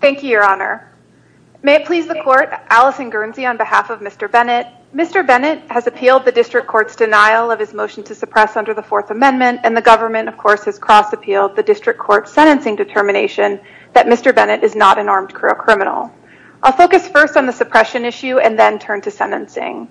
Thank you, Your Honor. May it please the Court, Alison Guernsey, on behalf of Mr. Bennett. Mr. Bennett has appealed the District Court's denial of his motion to suppress under the Fourth Amendment and the government, of course, has cross-appealed the District Court's sentencing determination that Mr. Bennett is not an armed criminal. I'll focus first on the suppression issue and then turn to sentencing.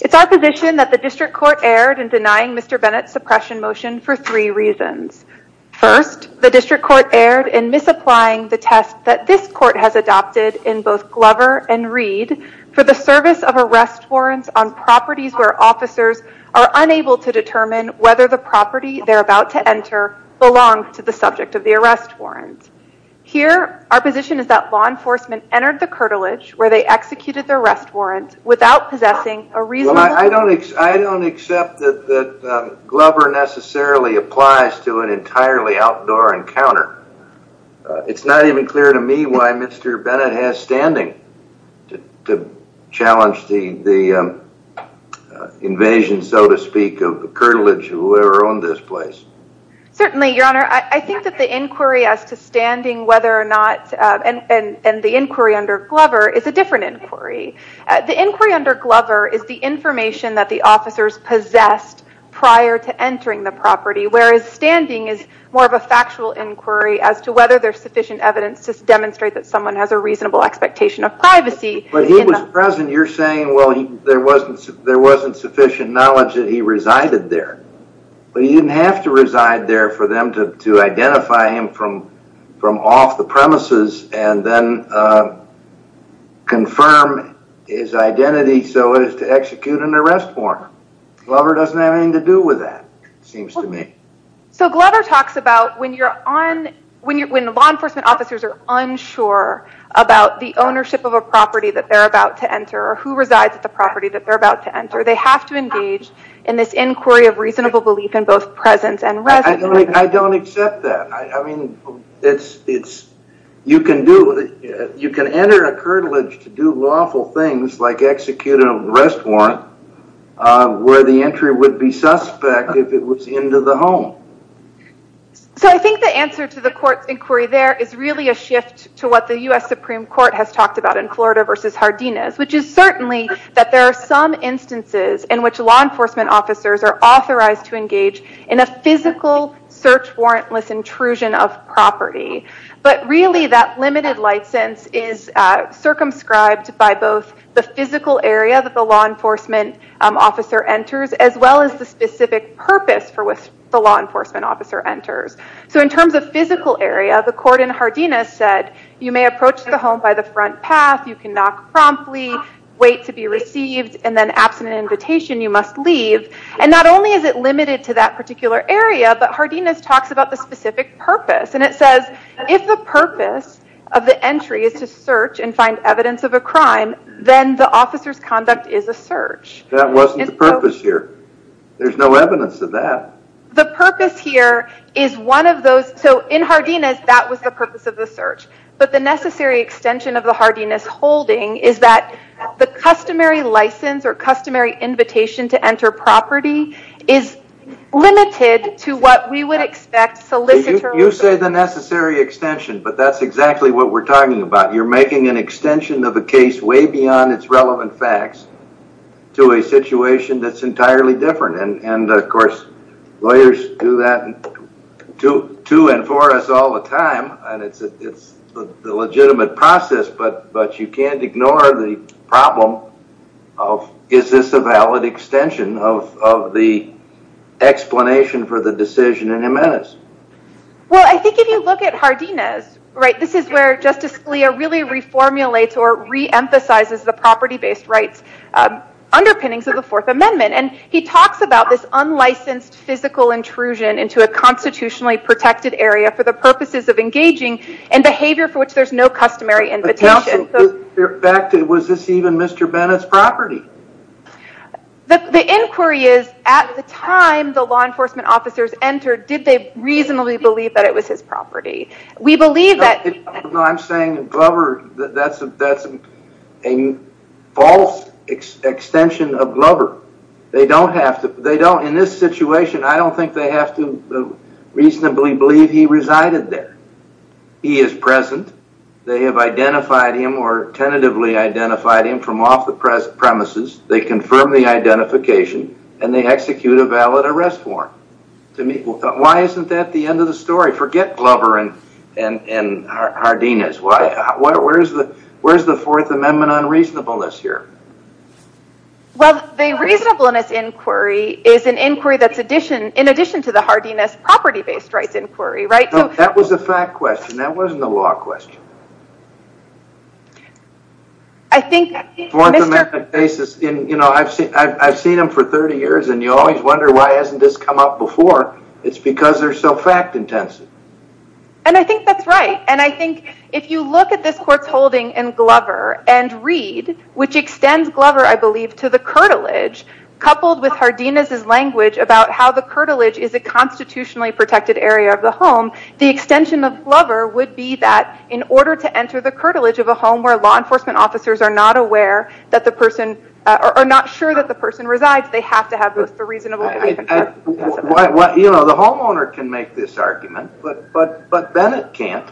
It's our position that the District Court erred in denying Mr. Bennett's suppression motion for three reasons. First, the District Court erred in disapplying the test that this Court has adopted in both Glover and Reed for the service of arrest warrants on properties where officers are unable to determine whether the property they're about to enter belongs to the subject of the arrest warrant. Here, our position is that law enforcement entered the curtilage where they executed the arrest warrant without possessing a reasonable- It's not even clear to me why Mr. Bennett has standing to challenge the invasion, so to speak, of the curtilage of whoever owned this place. Certainly, Your Honor. I think that the inquiry as to standing whether or not, and the inquiry under Glover, is a different inquiry. The inquiry under Glover is the information that the officers possessed prior to entering the property, whereas standing is more of a factual inquiry as to whether there's sufficient evidence to demonstrate that someone has a reasonable expectation of privacy- But he was present. You're saying, well, there wasn't sufficient knowledge that he resided there, but he didn't have to reside there for them to identify him from off the premises and then confirm his identity so as to execute an arrest warrant. Glover doesn't have anything to do with that, seems to me. So Glover talks about when law enforcement officers are unsure about the ownership of a property that they're about to enter or who resides at the property that they're about to enter, they have to engage in this inquiry of reasonable belief in both presence and residence. I don't accept that. You can enter a curtilage to do lawful things like execute an arrest warrant where the entry would be suspect if it was into the home. So I think the answer to the court's inquiry there is really a shift to what the U.S. Supreme Court has talked about in Florida versus Jardines, which is certainly that there are some instances in which law enforcement officers are authorized to engage in a physical search warrantless intrusion of property, but really that limited license is circumscribed by both the physical area that the law enforcement officer enters as well as the specific purpose for which the law enforcement officer enters. So in terms of physical area, the court in Jardines said you may approach the home by the front path, you can knock promptly, wait to be received, and then absent an invitation you must leave. And not only is it limited to that particular area, but Jardines talks about the specific purpose and it says if the purpose of the entry is to search. That wasn't the purpose here. There's no evidence of that. The purpose here is one of those, so in Jardines that was the purpose of the search. But the necessary extension of the Jardines holding is that the customary license or customary invitation to enter property is limited to what we would expect solicitor. You say the necessary extension, but that's exactly what we're talking about. You're making an extension of a case way beyond its relevant facts to a situation that's entirely different. And of course, lawyers do that to and for us all the time, and it's the legitimate process, but you can't ignore the problem of is this a valid extension of the explanation for the decision in Jimenez? Well, I think if you look at Jardines, this is where Justice Scalia really reformulates or reemphasizes the property-based rights underpinnings of the Fourth Amendment. And he talks about this unlicensed physical intrusion into a constitutionally protected area for the purposes of engaging in behavior for which there's no customary invitation. Was this even Mr. Bennett's property? The inquiry is at the time the law enforcement officers entered, did they reasonably believe that it was his property? No, I'm saying Glover, that's a false extension of Glover. They don't have to. In this situation, I don't think they have to reasonably believe he resided there. He is present. They have identified him or tentatively identified him from off the premises. They confirm the identification and they execute a valid arrest warrant. Why isn't that the end of the story? Forget Glover and Jardines. Where's the Fourth Amendment unreasonableness here? Well, the reasonableness inquiry is an inquiry that's in addition to the Jardines property-based rights inquiry, right? That was a fact question. That wasn't a law question. I think... Fourth Amendment cases, I've seen them for 30 years and you always wonder why this hasn't come up before. It's because they're so fact-intensive. I think that's right. I think if you look at this court's holding in Glover and Reed, which extends Glover, I believe, to the curtilage, coupled with Jardines' language about how the curtilage is a constitutionally protected area of the home, the extension of Glover would be that in order to enter the curtilage of a home where law enforcement officers are not aware that the person, or not sure that the person resides, they have to have the reasonable belief. The homeowner can make this argument, but Bennett can't.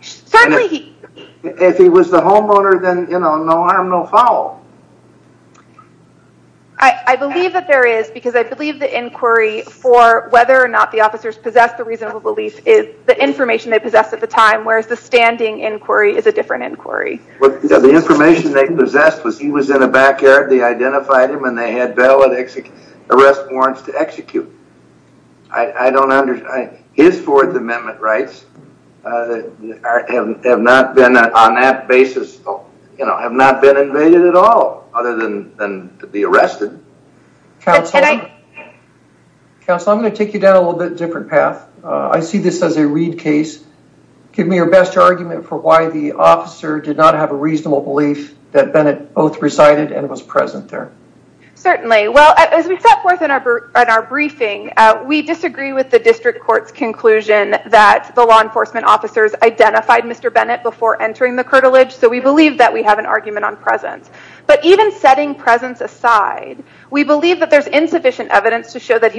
If he was the homeowner, then no harm, no foul. I believe that there is, because I believe the inquiry for whether or not the officers possess the reasonable belief is the information they possess at the time, whereas the standing inquiry is a different inquiry. The information they possessed was he was in a backyard, they identified him, and they had valid arrest warrants to execute. His Fourth Amendment rights have not been, on that basis, have not been invaded at all, other than to be arrested. Counsel, I'm going to take you down a little bit different path. I see this as a Reed case. Give me your best argument for why the officer did not have a reasonable belief that Bennett both resided and was present there. Certainly. Well, as we set forth in our briefing, we disagree with the district court's conclusion that the law enforcement officers identified Mr. Bennett before entering the curtilage, so we believe that we have an argument on presence. But even setting presence aside, we believe that there's insufficient evidence to show that he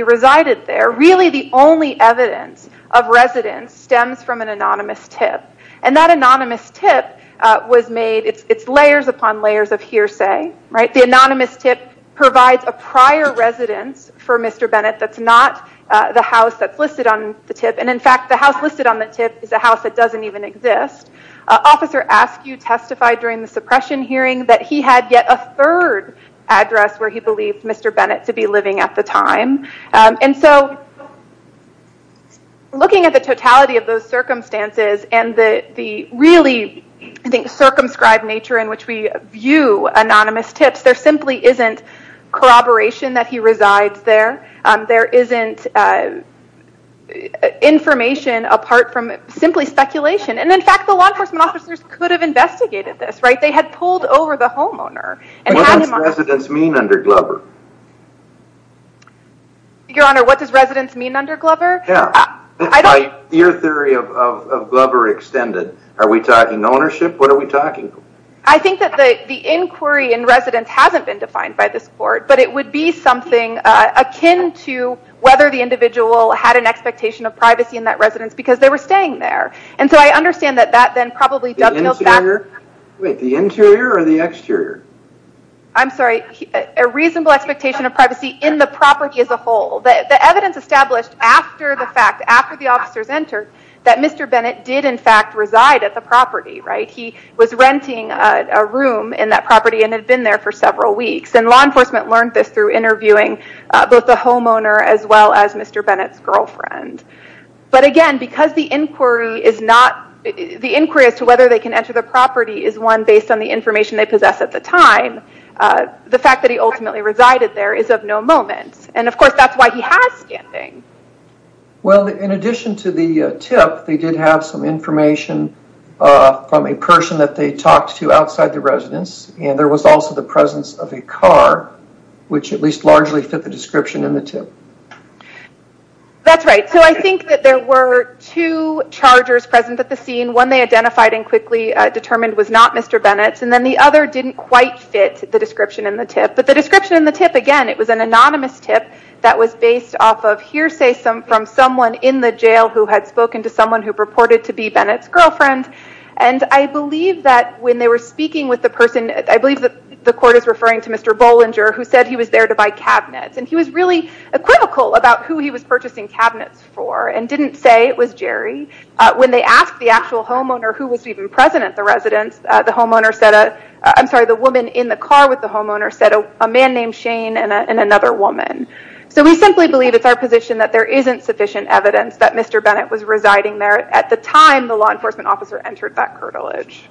an anonymous tip. That anonymous tip was made, it's layers upon layers of hearsay. The anonymous tip provides a prior residence for Mr. Bennett that's not the house that's listed on the tip. In fact, the house listed on the tip is a house that doesn't even exist. Officer Askew testified during the suppression hearing that he had yet a third address where he believed Mr. Bennett to be and the really, I think, circumscribed nature in which we view anonymous tips, there simply isn't corroboration that he resides there. There isn't information apart from simply speculation. In fact, the law enforcement officers could have investigated this. They had pulled over the homeowner. What does residence mean under Glover? Your Honor, what does residence mean under Glover? Yeah, that's my theory of Glover extended. Are we talking ownership? What are we talking? I think that the inquiry in residence hasn't been defined by this court, but it would be something akin to whether the individual had an expectation of privacy in that residence because they were staying there. And so I understand that that then probably dovetails back to- Wait, the interior or the exterior? I'm sorry. A reasonable expectation of privacy in the property as a whole. The evidence established after the fact, after the officers entered, that Mr. Bennett did in fact reside at the property. He was renting a room in that property and had been there for several weeks. And law enforcement learned this through interviewing both the homeowner as well as Mr. Bennett's girlfriend. But again, because the inquiry is not... The inquiry as to whether they can enter the property is one based on the information they possess at the time. The fact that he ultimately resided there is of no moment. And of course, that's why he has standing. Well, in addition to the tip, they did have some information from a person that they talked to outside the residence. And there was also the presence of a car, which at least largely fit the description in the tip. That's right. So I think that there were two chargers present at the scene. One they identified and quickly determined was not Mr. Bennett's. And then the other didn't quite fit the description in the tip. But the description in the tip, again, it was an anonymous tip that was based off of hearsay from someone in the jail who had spoken to someone who purported to be Bennett's girlfriend. And I believe that when they were speaking with the person, I believe that the court is referring to Mr. Bollinger, who said he was there to buy cabinets. And he was really critical about who he was purchasing cabinets for and didn't say it was Jerry. When they asked the actual homeowner who was even present at the residence, the woman in the car with the homeowner said a man named Shane and another woman. So we simply believe it's our position that there isn't sufficient evidence that Mr. Bennett was residing there at the time the law enforcement officer entered that curtilage.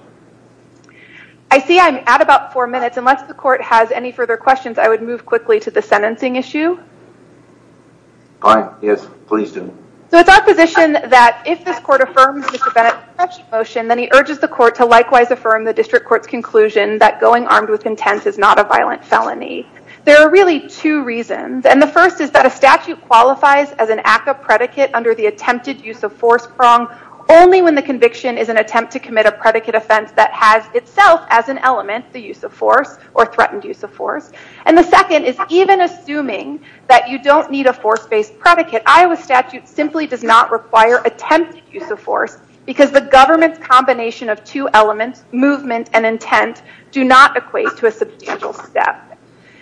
I see I'm at about four minutes. Unless the court has any further questions, I would move quickly to the sentencing issue. Fine. Yes, please do. So it's our position that if this court affirms Mr. Bennett's motion, then he urges the court to likewise affirm the district court's conclusion that going armed with intent is not a violent felony. There are really two reasons. And the first is that a statute qualifies as an act of predicate under the attempted use of force prong only when the conviction is an attempt to commit a predicate offense that has itself as an element the use of force or threatened use of force. And the second is even assuming that you don't need a force-based predicate. Iowa statute simply does not require attempted use of force because the government's combination of two elements, movement and intent, do not equate to a substantial step.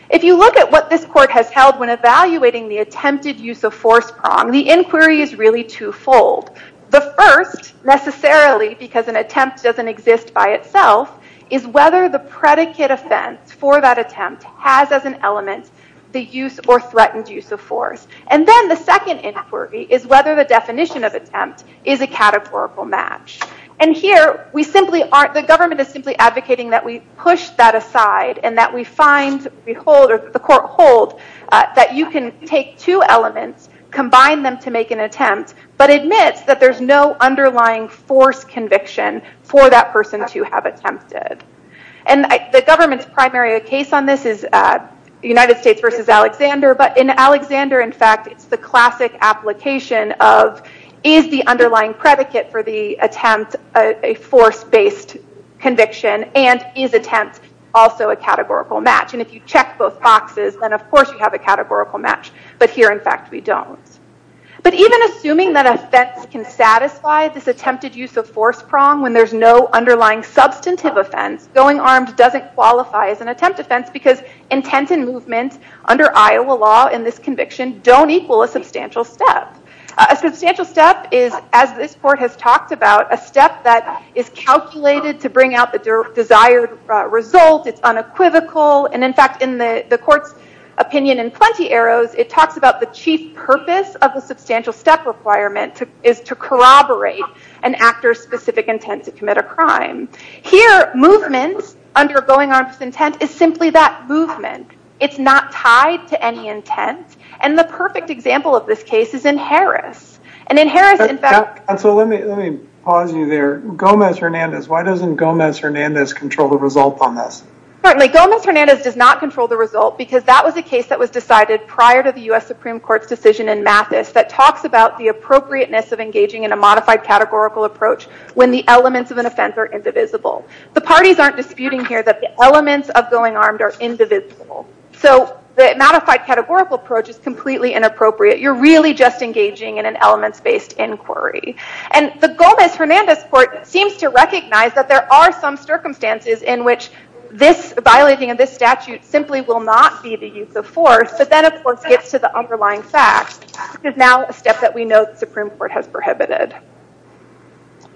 If you look at what this court has held when evaluating the attempted use of force prong, the inquiry is really twofold. The first, necessarily because an attempt doesn't exist by itself, is whether the predicate offense for that attempt has as an element the use or threatened use of force. And then the second inquiry is whether the definition of attempt is a categorical match. And here, the government is simply advocating that we push that aside and that we find, we hold, or the court hold, that you can take two elements, combine them to make an attempt, but admit that there's no underlying force conviction for that person to have attempted. And the government's primary case on this is United States versus Alexander. But in Alexander, it's the classic application of is the underlying predicate for the attempt a force-based conviction and is attempt also a categorical match? And if you check both boxes, then of course, you have a categorical match. But here, in fact, we don't. But even assuming that offense can satisfy this attempted use of force prong when there's no underlying substantive offense, going armed doesn't qualify as an attempt offense because intent and movement under Iowa law in this conviction don't equal a substantial step. A substantial step is, as this court has talked about, a step that is calculated to bring out the desired result. It's unequivocal. And in fact, in the court's opinion in Plenty Arrows, it talks about the chief purpose of the substantial step requirement is to corroborate an actor's specific intent to commit a crime. Here, movement under going armed with intent is simply that movement. It's not tied to any intent. And the perfect example of this case is in Harris. And in Harris, in fact- Counsel, let me pause you there. Gomez-Hernandez, why doesn't Gomez-Hernandez control the result on this? Certainly. Gomez-Hernandez does not control the result because that was a case that was decided prior to the US Supreme Court's decision in Mathis that talks about the appropriateness of engaging in a modified categorical approach when the elements of an offense are indivisible. The parties aren't disputing here that the elements of going armed are indivisible. So the modified categorical approach is completely inappropriate. You're really just engaging in an elements-based inquiry. And the Gomez-Hernandez court seems to recognize that there are some circumstances in which this violating of this statute simply will not be the use of force. But then, of course, it gets to the underlying facts. It's now a step that we know the Supreme Court has prohibited.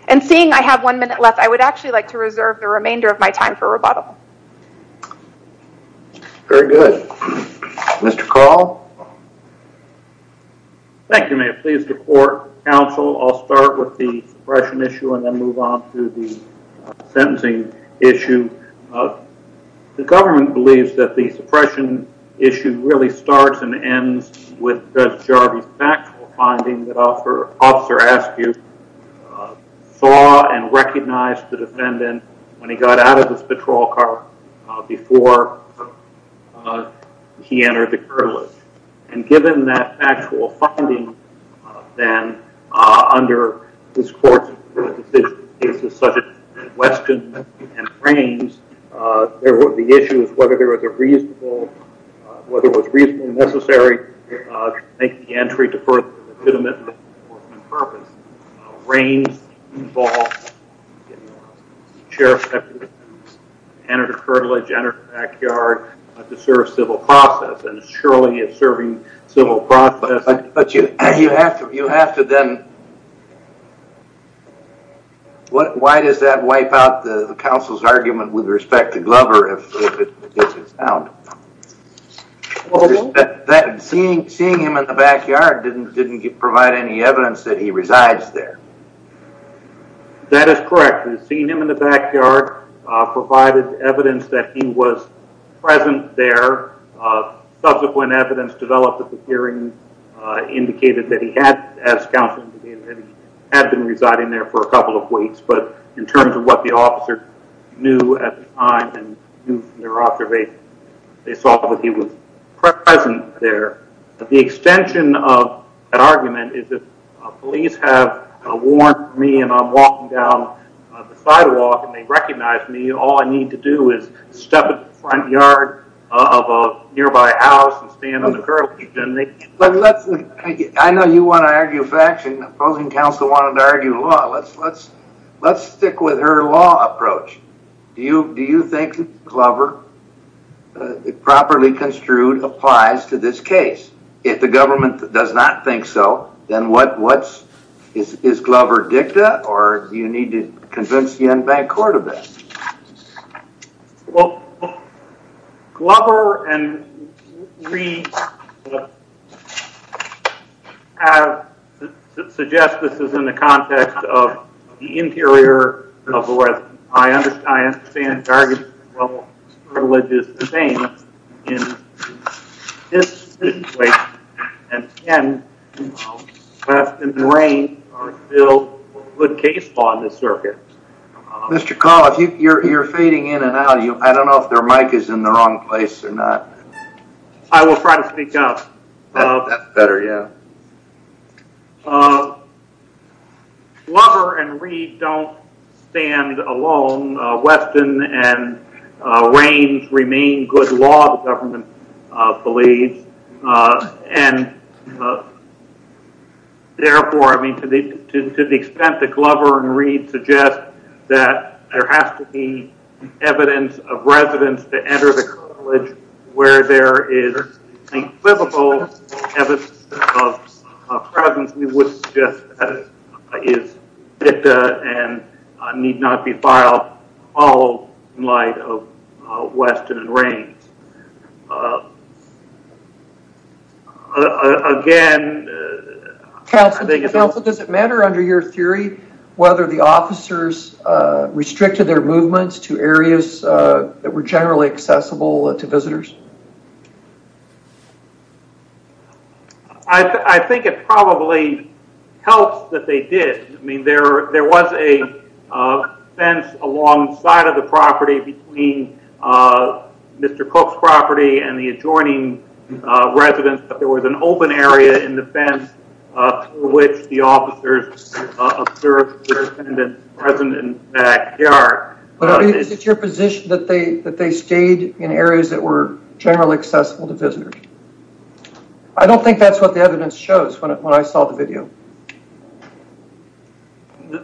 And seeing I have one minute left, I would actually like to reserve the remainder of my time for rebuttal. Very good. Mr. Carl? Thank you, ma'am. Please, the court, counsel. I'll start with the suppression issue and then move on to the sentencing issue. The government believes that the suppression issue really starts and ends with Judge Jarvis' factual finding that Officer Askew saw and recognized the defendant when he got out of his patrol car before he entered the courthouse. And given that factual finding, then, under his court's decision, cases such as Weston and Raines, there would be issues whether there was a reasonable, whether it was reasonably necessary to make the entry to further the epitome of the enforcement purpose. Raines involved the sheriff's deputy, entered the curtilage, entered the backyard to serve civil process. And surely, it's serving civil process. But you have to then, why does that wipe out the counsel's argument with respect to Glover if it's found? Seeing him in the backyard didn't provide any evidence that he resides there. That is correct. Seeing him in the backyard provided evidence that he was present there. Subsequent evidence developed at the hearing indicated that he had, as counsel indicated, that he had been residing there for a couple of weeks. But in terms of what the officer knew at the time and knew from their observation, they saw that he was present there. The extension of that argument is that police have warned me and I'm walking down the sidewalk and they recognize me. All I need to do is step in the front yard of a nearby house and stand on the curtilage. I know you want to argue facts and opposing counsel wanted to argue law. Let's stick with her law approach. Do you think Glover, properly construed, applies to this case? If the government does not think so, then what's, is Glover dicta or do you need to back court a bit? Glover and we have suggested this is in the context of the interior of the West. I understand the charges of religious disdain in this situation. And again, West and Raines are still good case law in this circuit. Mr. Collins, you're fading in and out. I don't know if their mic is in the wrong place or not. I will try to speak up. That's better, yeah. Glover and Reid don't stand alone. Weston and Raines remain good law, the government believes. And therefore, to the extent that Glover and Reid suggest that there has to be evidence of residence to enter the curtilage where there is a physical evidence of presence, we would suggest that it is dicta and need not be filed all in light of Weston and Raines. Again, I think it's... Counsel, does it matter under your theory whether the officers restricted their movements to areas that were generally accessible to visitors? I think it probably helps that they did. I mean, there was a fence alongside of the property between Mr. Cook's property and the adjoining residence, but there was an open area in the fence through which the officers observed the resident's backyard. Is it your position that they stayed in areas that were generally accessible to visitors? I don't think that's what the evidence shows when I saw the video.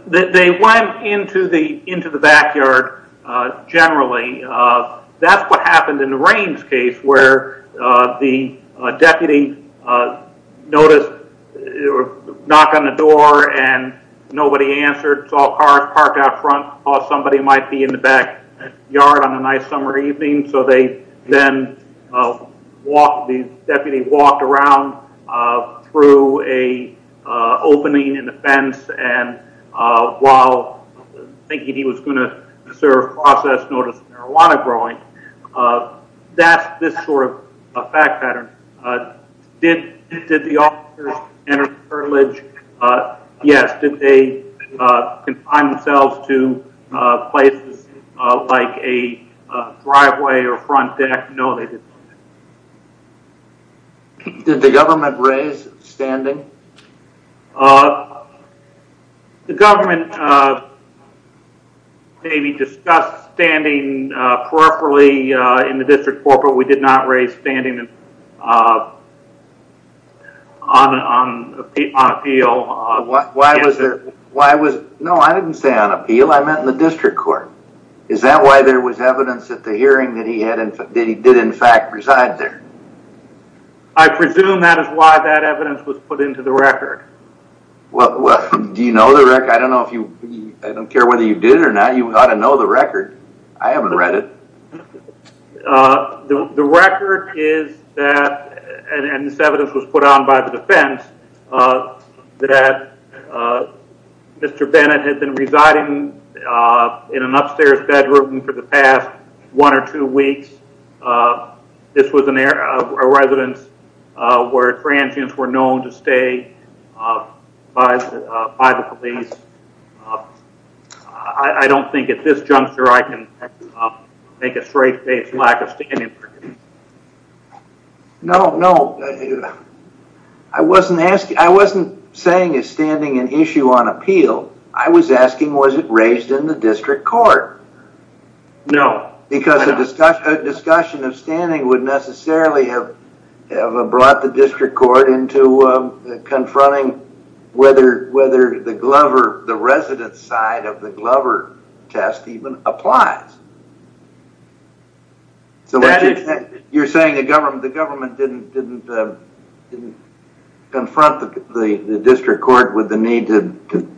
They went into the backyard generally. That's what happened in the Raines case where the deputy noticed a knock on the door and nobody answered. It's all parked out front. Somebody might be in the backyard on a nice summer evening, so they then... The deputy walked around through a opening in the fence and while thinking he was going to serve process notice of marijuana growing, that's this sort of fact pattern. Did the officers enter the curtilage? Yes. Did they confine themselves to places like a driveway or front deck? No, they didn't. Did the government raise standing? The government maybe discussed standing peripherally in the district court, but we did not raise standing on appeal. Why was there... No, I didn't say on appeal, I meant in the district court. Is that why there was evidence at the hearing that he did in fact reside there? I presume that is why that evidence was put into the record. Do you know the record? I don't care whether you did it or not, you ought to know the record. I haven't read it. The record is that, and this evidence was put on by the defense, that Mr. Bennett had been residing in an upstairs bedroom for the past one or two weeks with a residence where transients were known to stay by the police. I don't think at this juncture I can make a straight faced lack of standing. No, no. I wasn't saying is standing an issue on appeal. I was asking was it raised in the district court? No. Because a discussion of standing would necessarily have brought the district court into confronting whether the residence side of the Glover test even applies. You're saying the government didn't confront the district court with the need to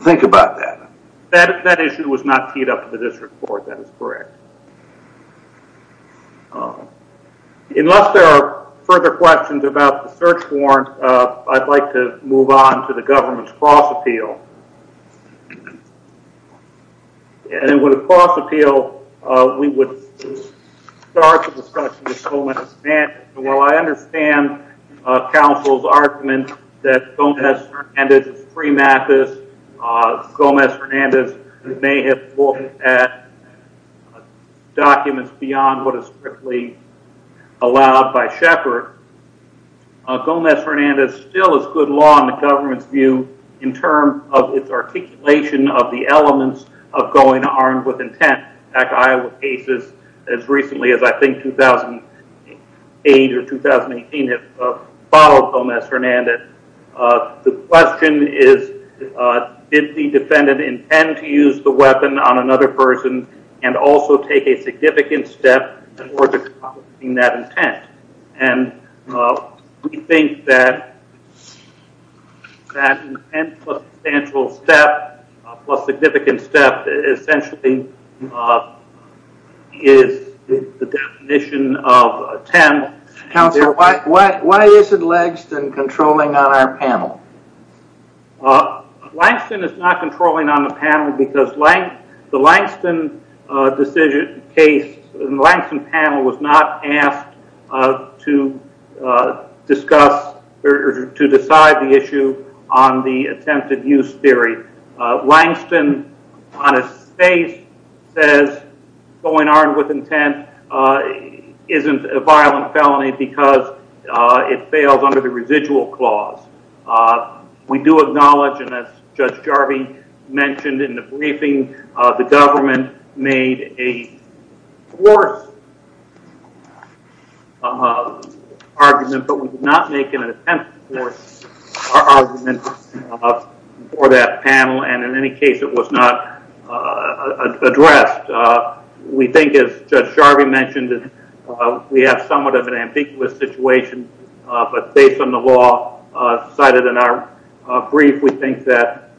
think about that? That issue was not teed up in the district court, that is correct. Unless there are further questions about the search warrant, I'd like to move on to the government's cross appeal. And with a cross appeal, we would start the discussion with Gomez Hernandez. While I may have looked at documents beyond what is strictly allowed by Sheppard, Gomez Hernandez still is good law in the government's view in terms of its articulation of the elements of going armed with intent. In fact, Iowa cases as recently as I think 2008 or 10 to use the weapon on another person and also take a significant step towards accomplishing that intent. And we think that that intent plus substantial step plus significant step essentially is the definition of 10. Counselor, why isn't Langston controlling on our panel? Langston is not controlling on the panel because the Langston panel was not asked to discuss or to decide the issue on the attempted use theory. Langston, on his face, says going armed with intent isn't a violent felony because it fails under the residual clause. We do acknowledge, and as Judge Jarvie mentioned in the briefing, the government made a force argument, but we did not make an attempt to force our argument for that panel. And in any case, it was not addressed. We think, as Judge Jarvie mentioned, we have somewhat of an ambiguous situation, but based on the law cited in our brief, we think that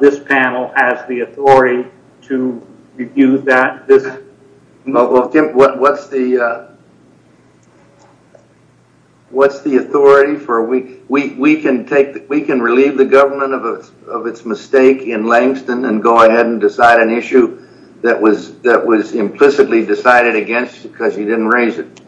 this panel has the authority to review that. Well, Tim, what's the authority? We can relieve the government of its mistake in Langston and go ahead and decide an issue that was implicitly decided against because you didn't raise it.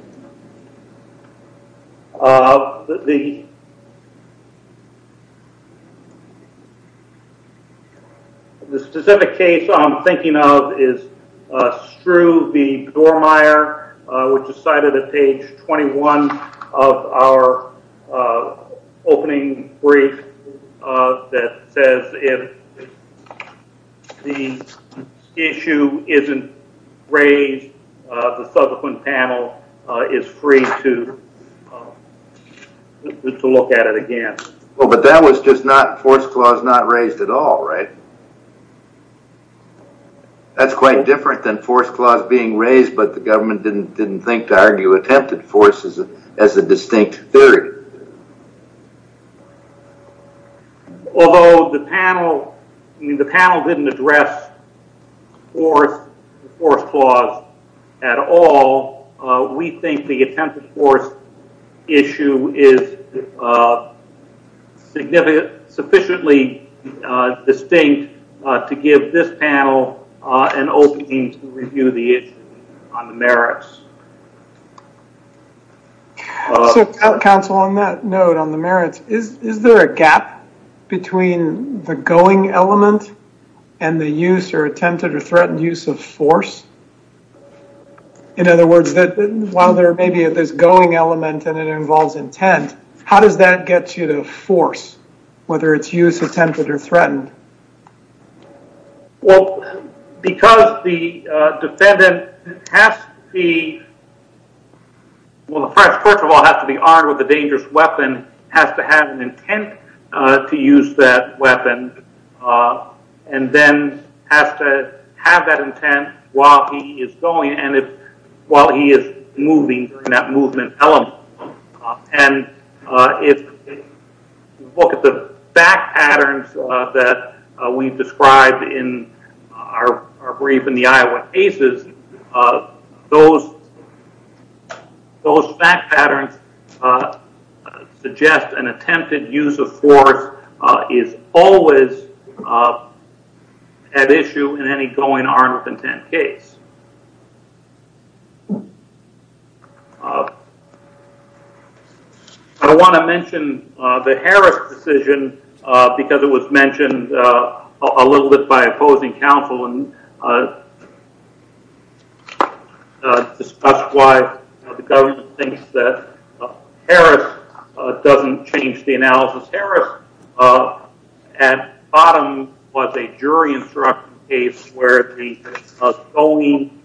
The specific case I'm thinking of is if the issue isn't raised, the subsequent panel is free to look at it again. Well, but that was just force clause not raised at all, right? That's quite different than force clause being raised, but the government didn't think to argue attempted force as a distinct theory. Although the panel didn't address force clause at all, we think the attempted force issue is sufficiently distinct to give this panel an opening to review the issue on the merits. So, counsel, on that note, on the merits, is there a gap between the going element and the use or attempted or threatened use of force? In other words, while there may be this going element and it involves intent, how does that get you to force, whether it's use, attempted, or threatened? Well, because the defendant has to be, well, first of all, has to be armed with a dangerous weapon, has to have an intent to use that weapon, and then has to have that intent while he is going and while he is moving in that movement element. And if you look at the fact patterns that we've described in our brief in the Iowa cases, those fact patterns suggest an attempted use of force is always at issue in any going armed with intent case. I want to mention the Harris decision because it was mentioned a little bit by opposing counsel and it was discussed why the government thinks that Harris doesn't change the analysis. Harris at the bottom was a jury instruction case where the going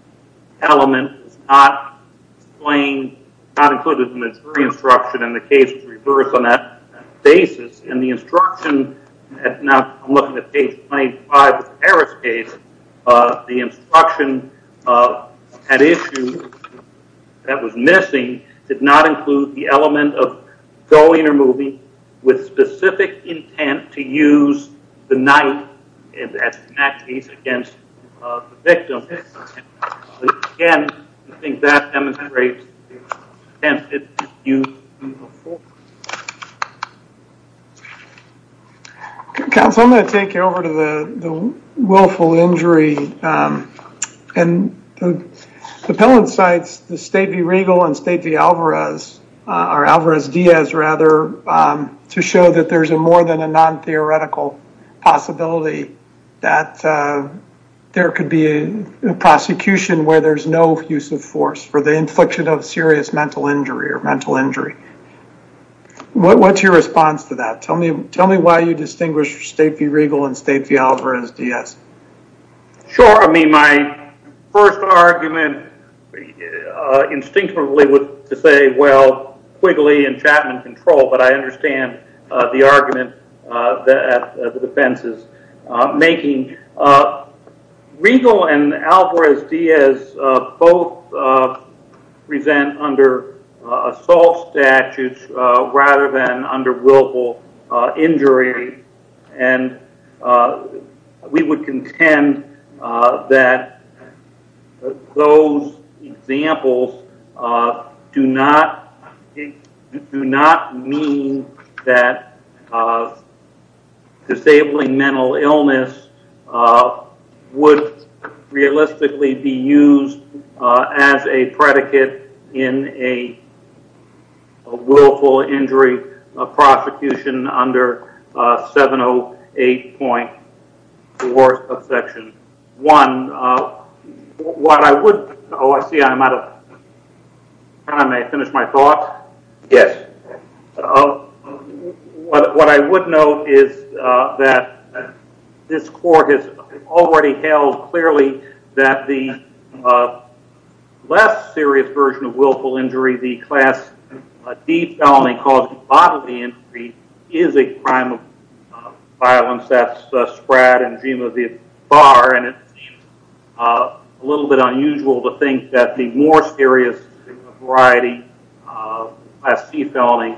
element is not explained, not included in the jury instruction, and the case is reversed on that basis. And the instruction, now I'm looking at page 25 of the Harris case, the instruction at issue that was missing did not include the element of going or moving with specific intent to use the knife against the victim. Again, I think that demonstrates the use of force. Counsel, I'm going to take you over to the willful injury. And the appellate sites, the state v. Regal and state v. Alvarez, or Alvarez Diaz rather, to show that there's more than a non-theoretical possibility that there could be a prosecution where there's no use of force for the infliction of serious mental injury. What's your response to that? Tell me why you distinguish state v. Regal and state v. Alvarez Diaz. Sure. I mean, my first argument is instinctively to say, well, Quigley and Chapman control, but I understand the argument that the defense is making. Regal and Alvarez Diaz both present under assault statutes rather than under willful injury. And we would contend that those examples do not mean that disabling mental illness would realistically be used as a predicate in a willful injury of prosecution under 708.4 of Section 1. What I would, oh, I see I'm out of time. May I finish my thoughts? Yes. What I would note is that this court has already held clearly that the less serious version of willful injury, the class D felony causing bodily injury, is a crime of violence that's spread in the genome of the bar. And it's a little bit unusual to think that the more serious variety of class C felony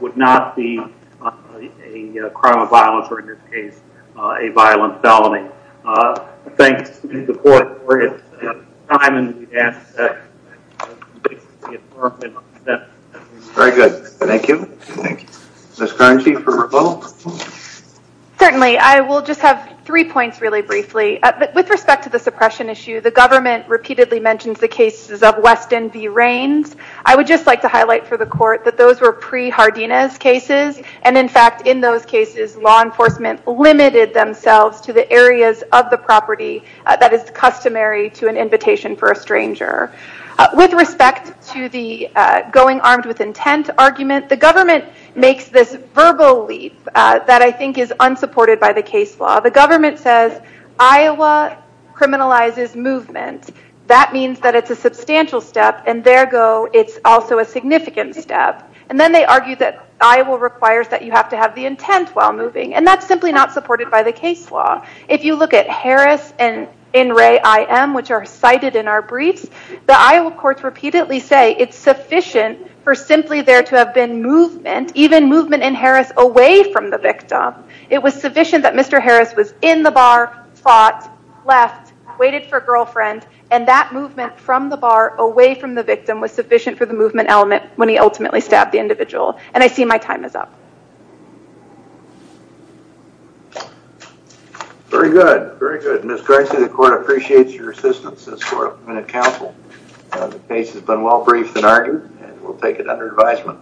would not be a crime of violence or, in this case, a violent felony. Thanks to the court for its time. Very good. Thank you. Thank you. Ms. Carnegie for her vote. Certainly. I will just have three points really briefly. With respect to the suppression issue, the government repeatedly mentions the cases of Weston v. Rains. I would just like to highlight for the court that those were pre-Hardina's cases. And in fact, in those cases, law enforcement limited themselves to the areas of the property that is customary to an invitation for a stranger. With respect to the going armed with intent argument, the government makes this verbal leap that I think is unsupported by the case law. The government says, Iowa criminalizes movement. That means that it's a substantial step. And there go, it's also a significant step. And then they argue that Iowa requires that you have to have the intent while moving. And that's simply not supported by the case law. If you look at Harris and in Ray IM, which are cited in our briefs, the Iowa courts repeatedly say it's sufficient for simply there to have been movement, even movement in Harris away from the victim. It was sufficient that Mr. Harris was in the bar, fought, left, waited for a girlfriend, and that movement from the bar away from the victim was sufficient for the movement element when he ultimately stabbed the individual. And I see my time is up. Very good. Very good. Ms. Gricey, the court appreciates your assistance. For a minute, counsel, the case has been well briefed and argued and we'll take it under advisement.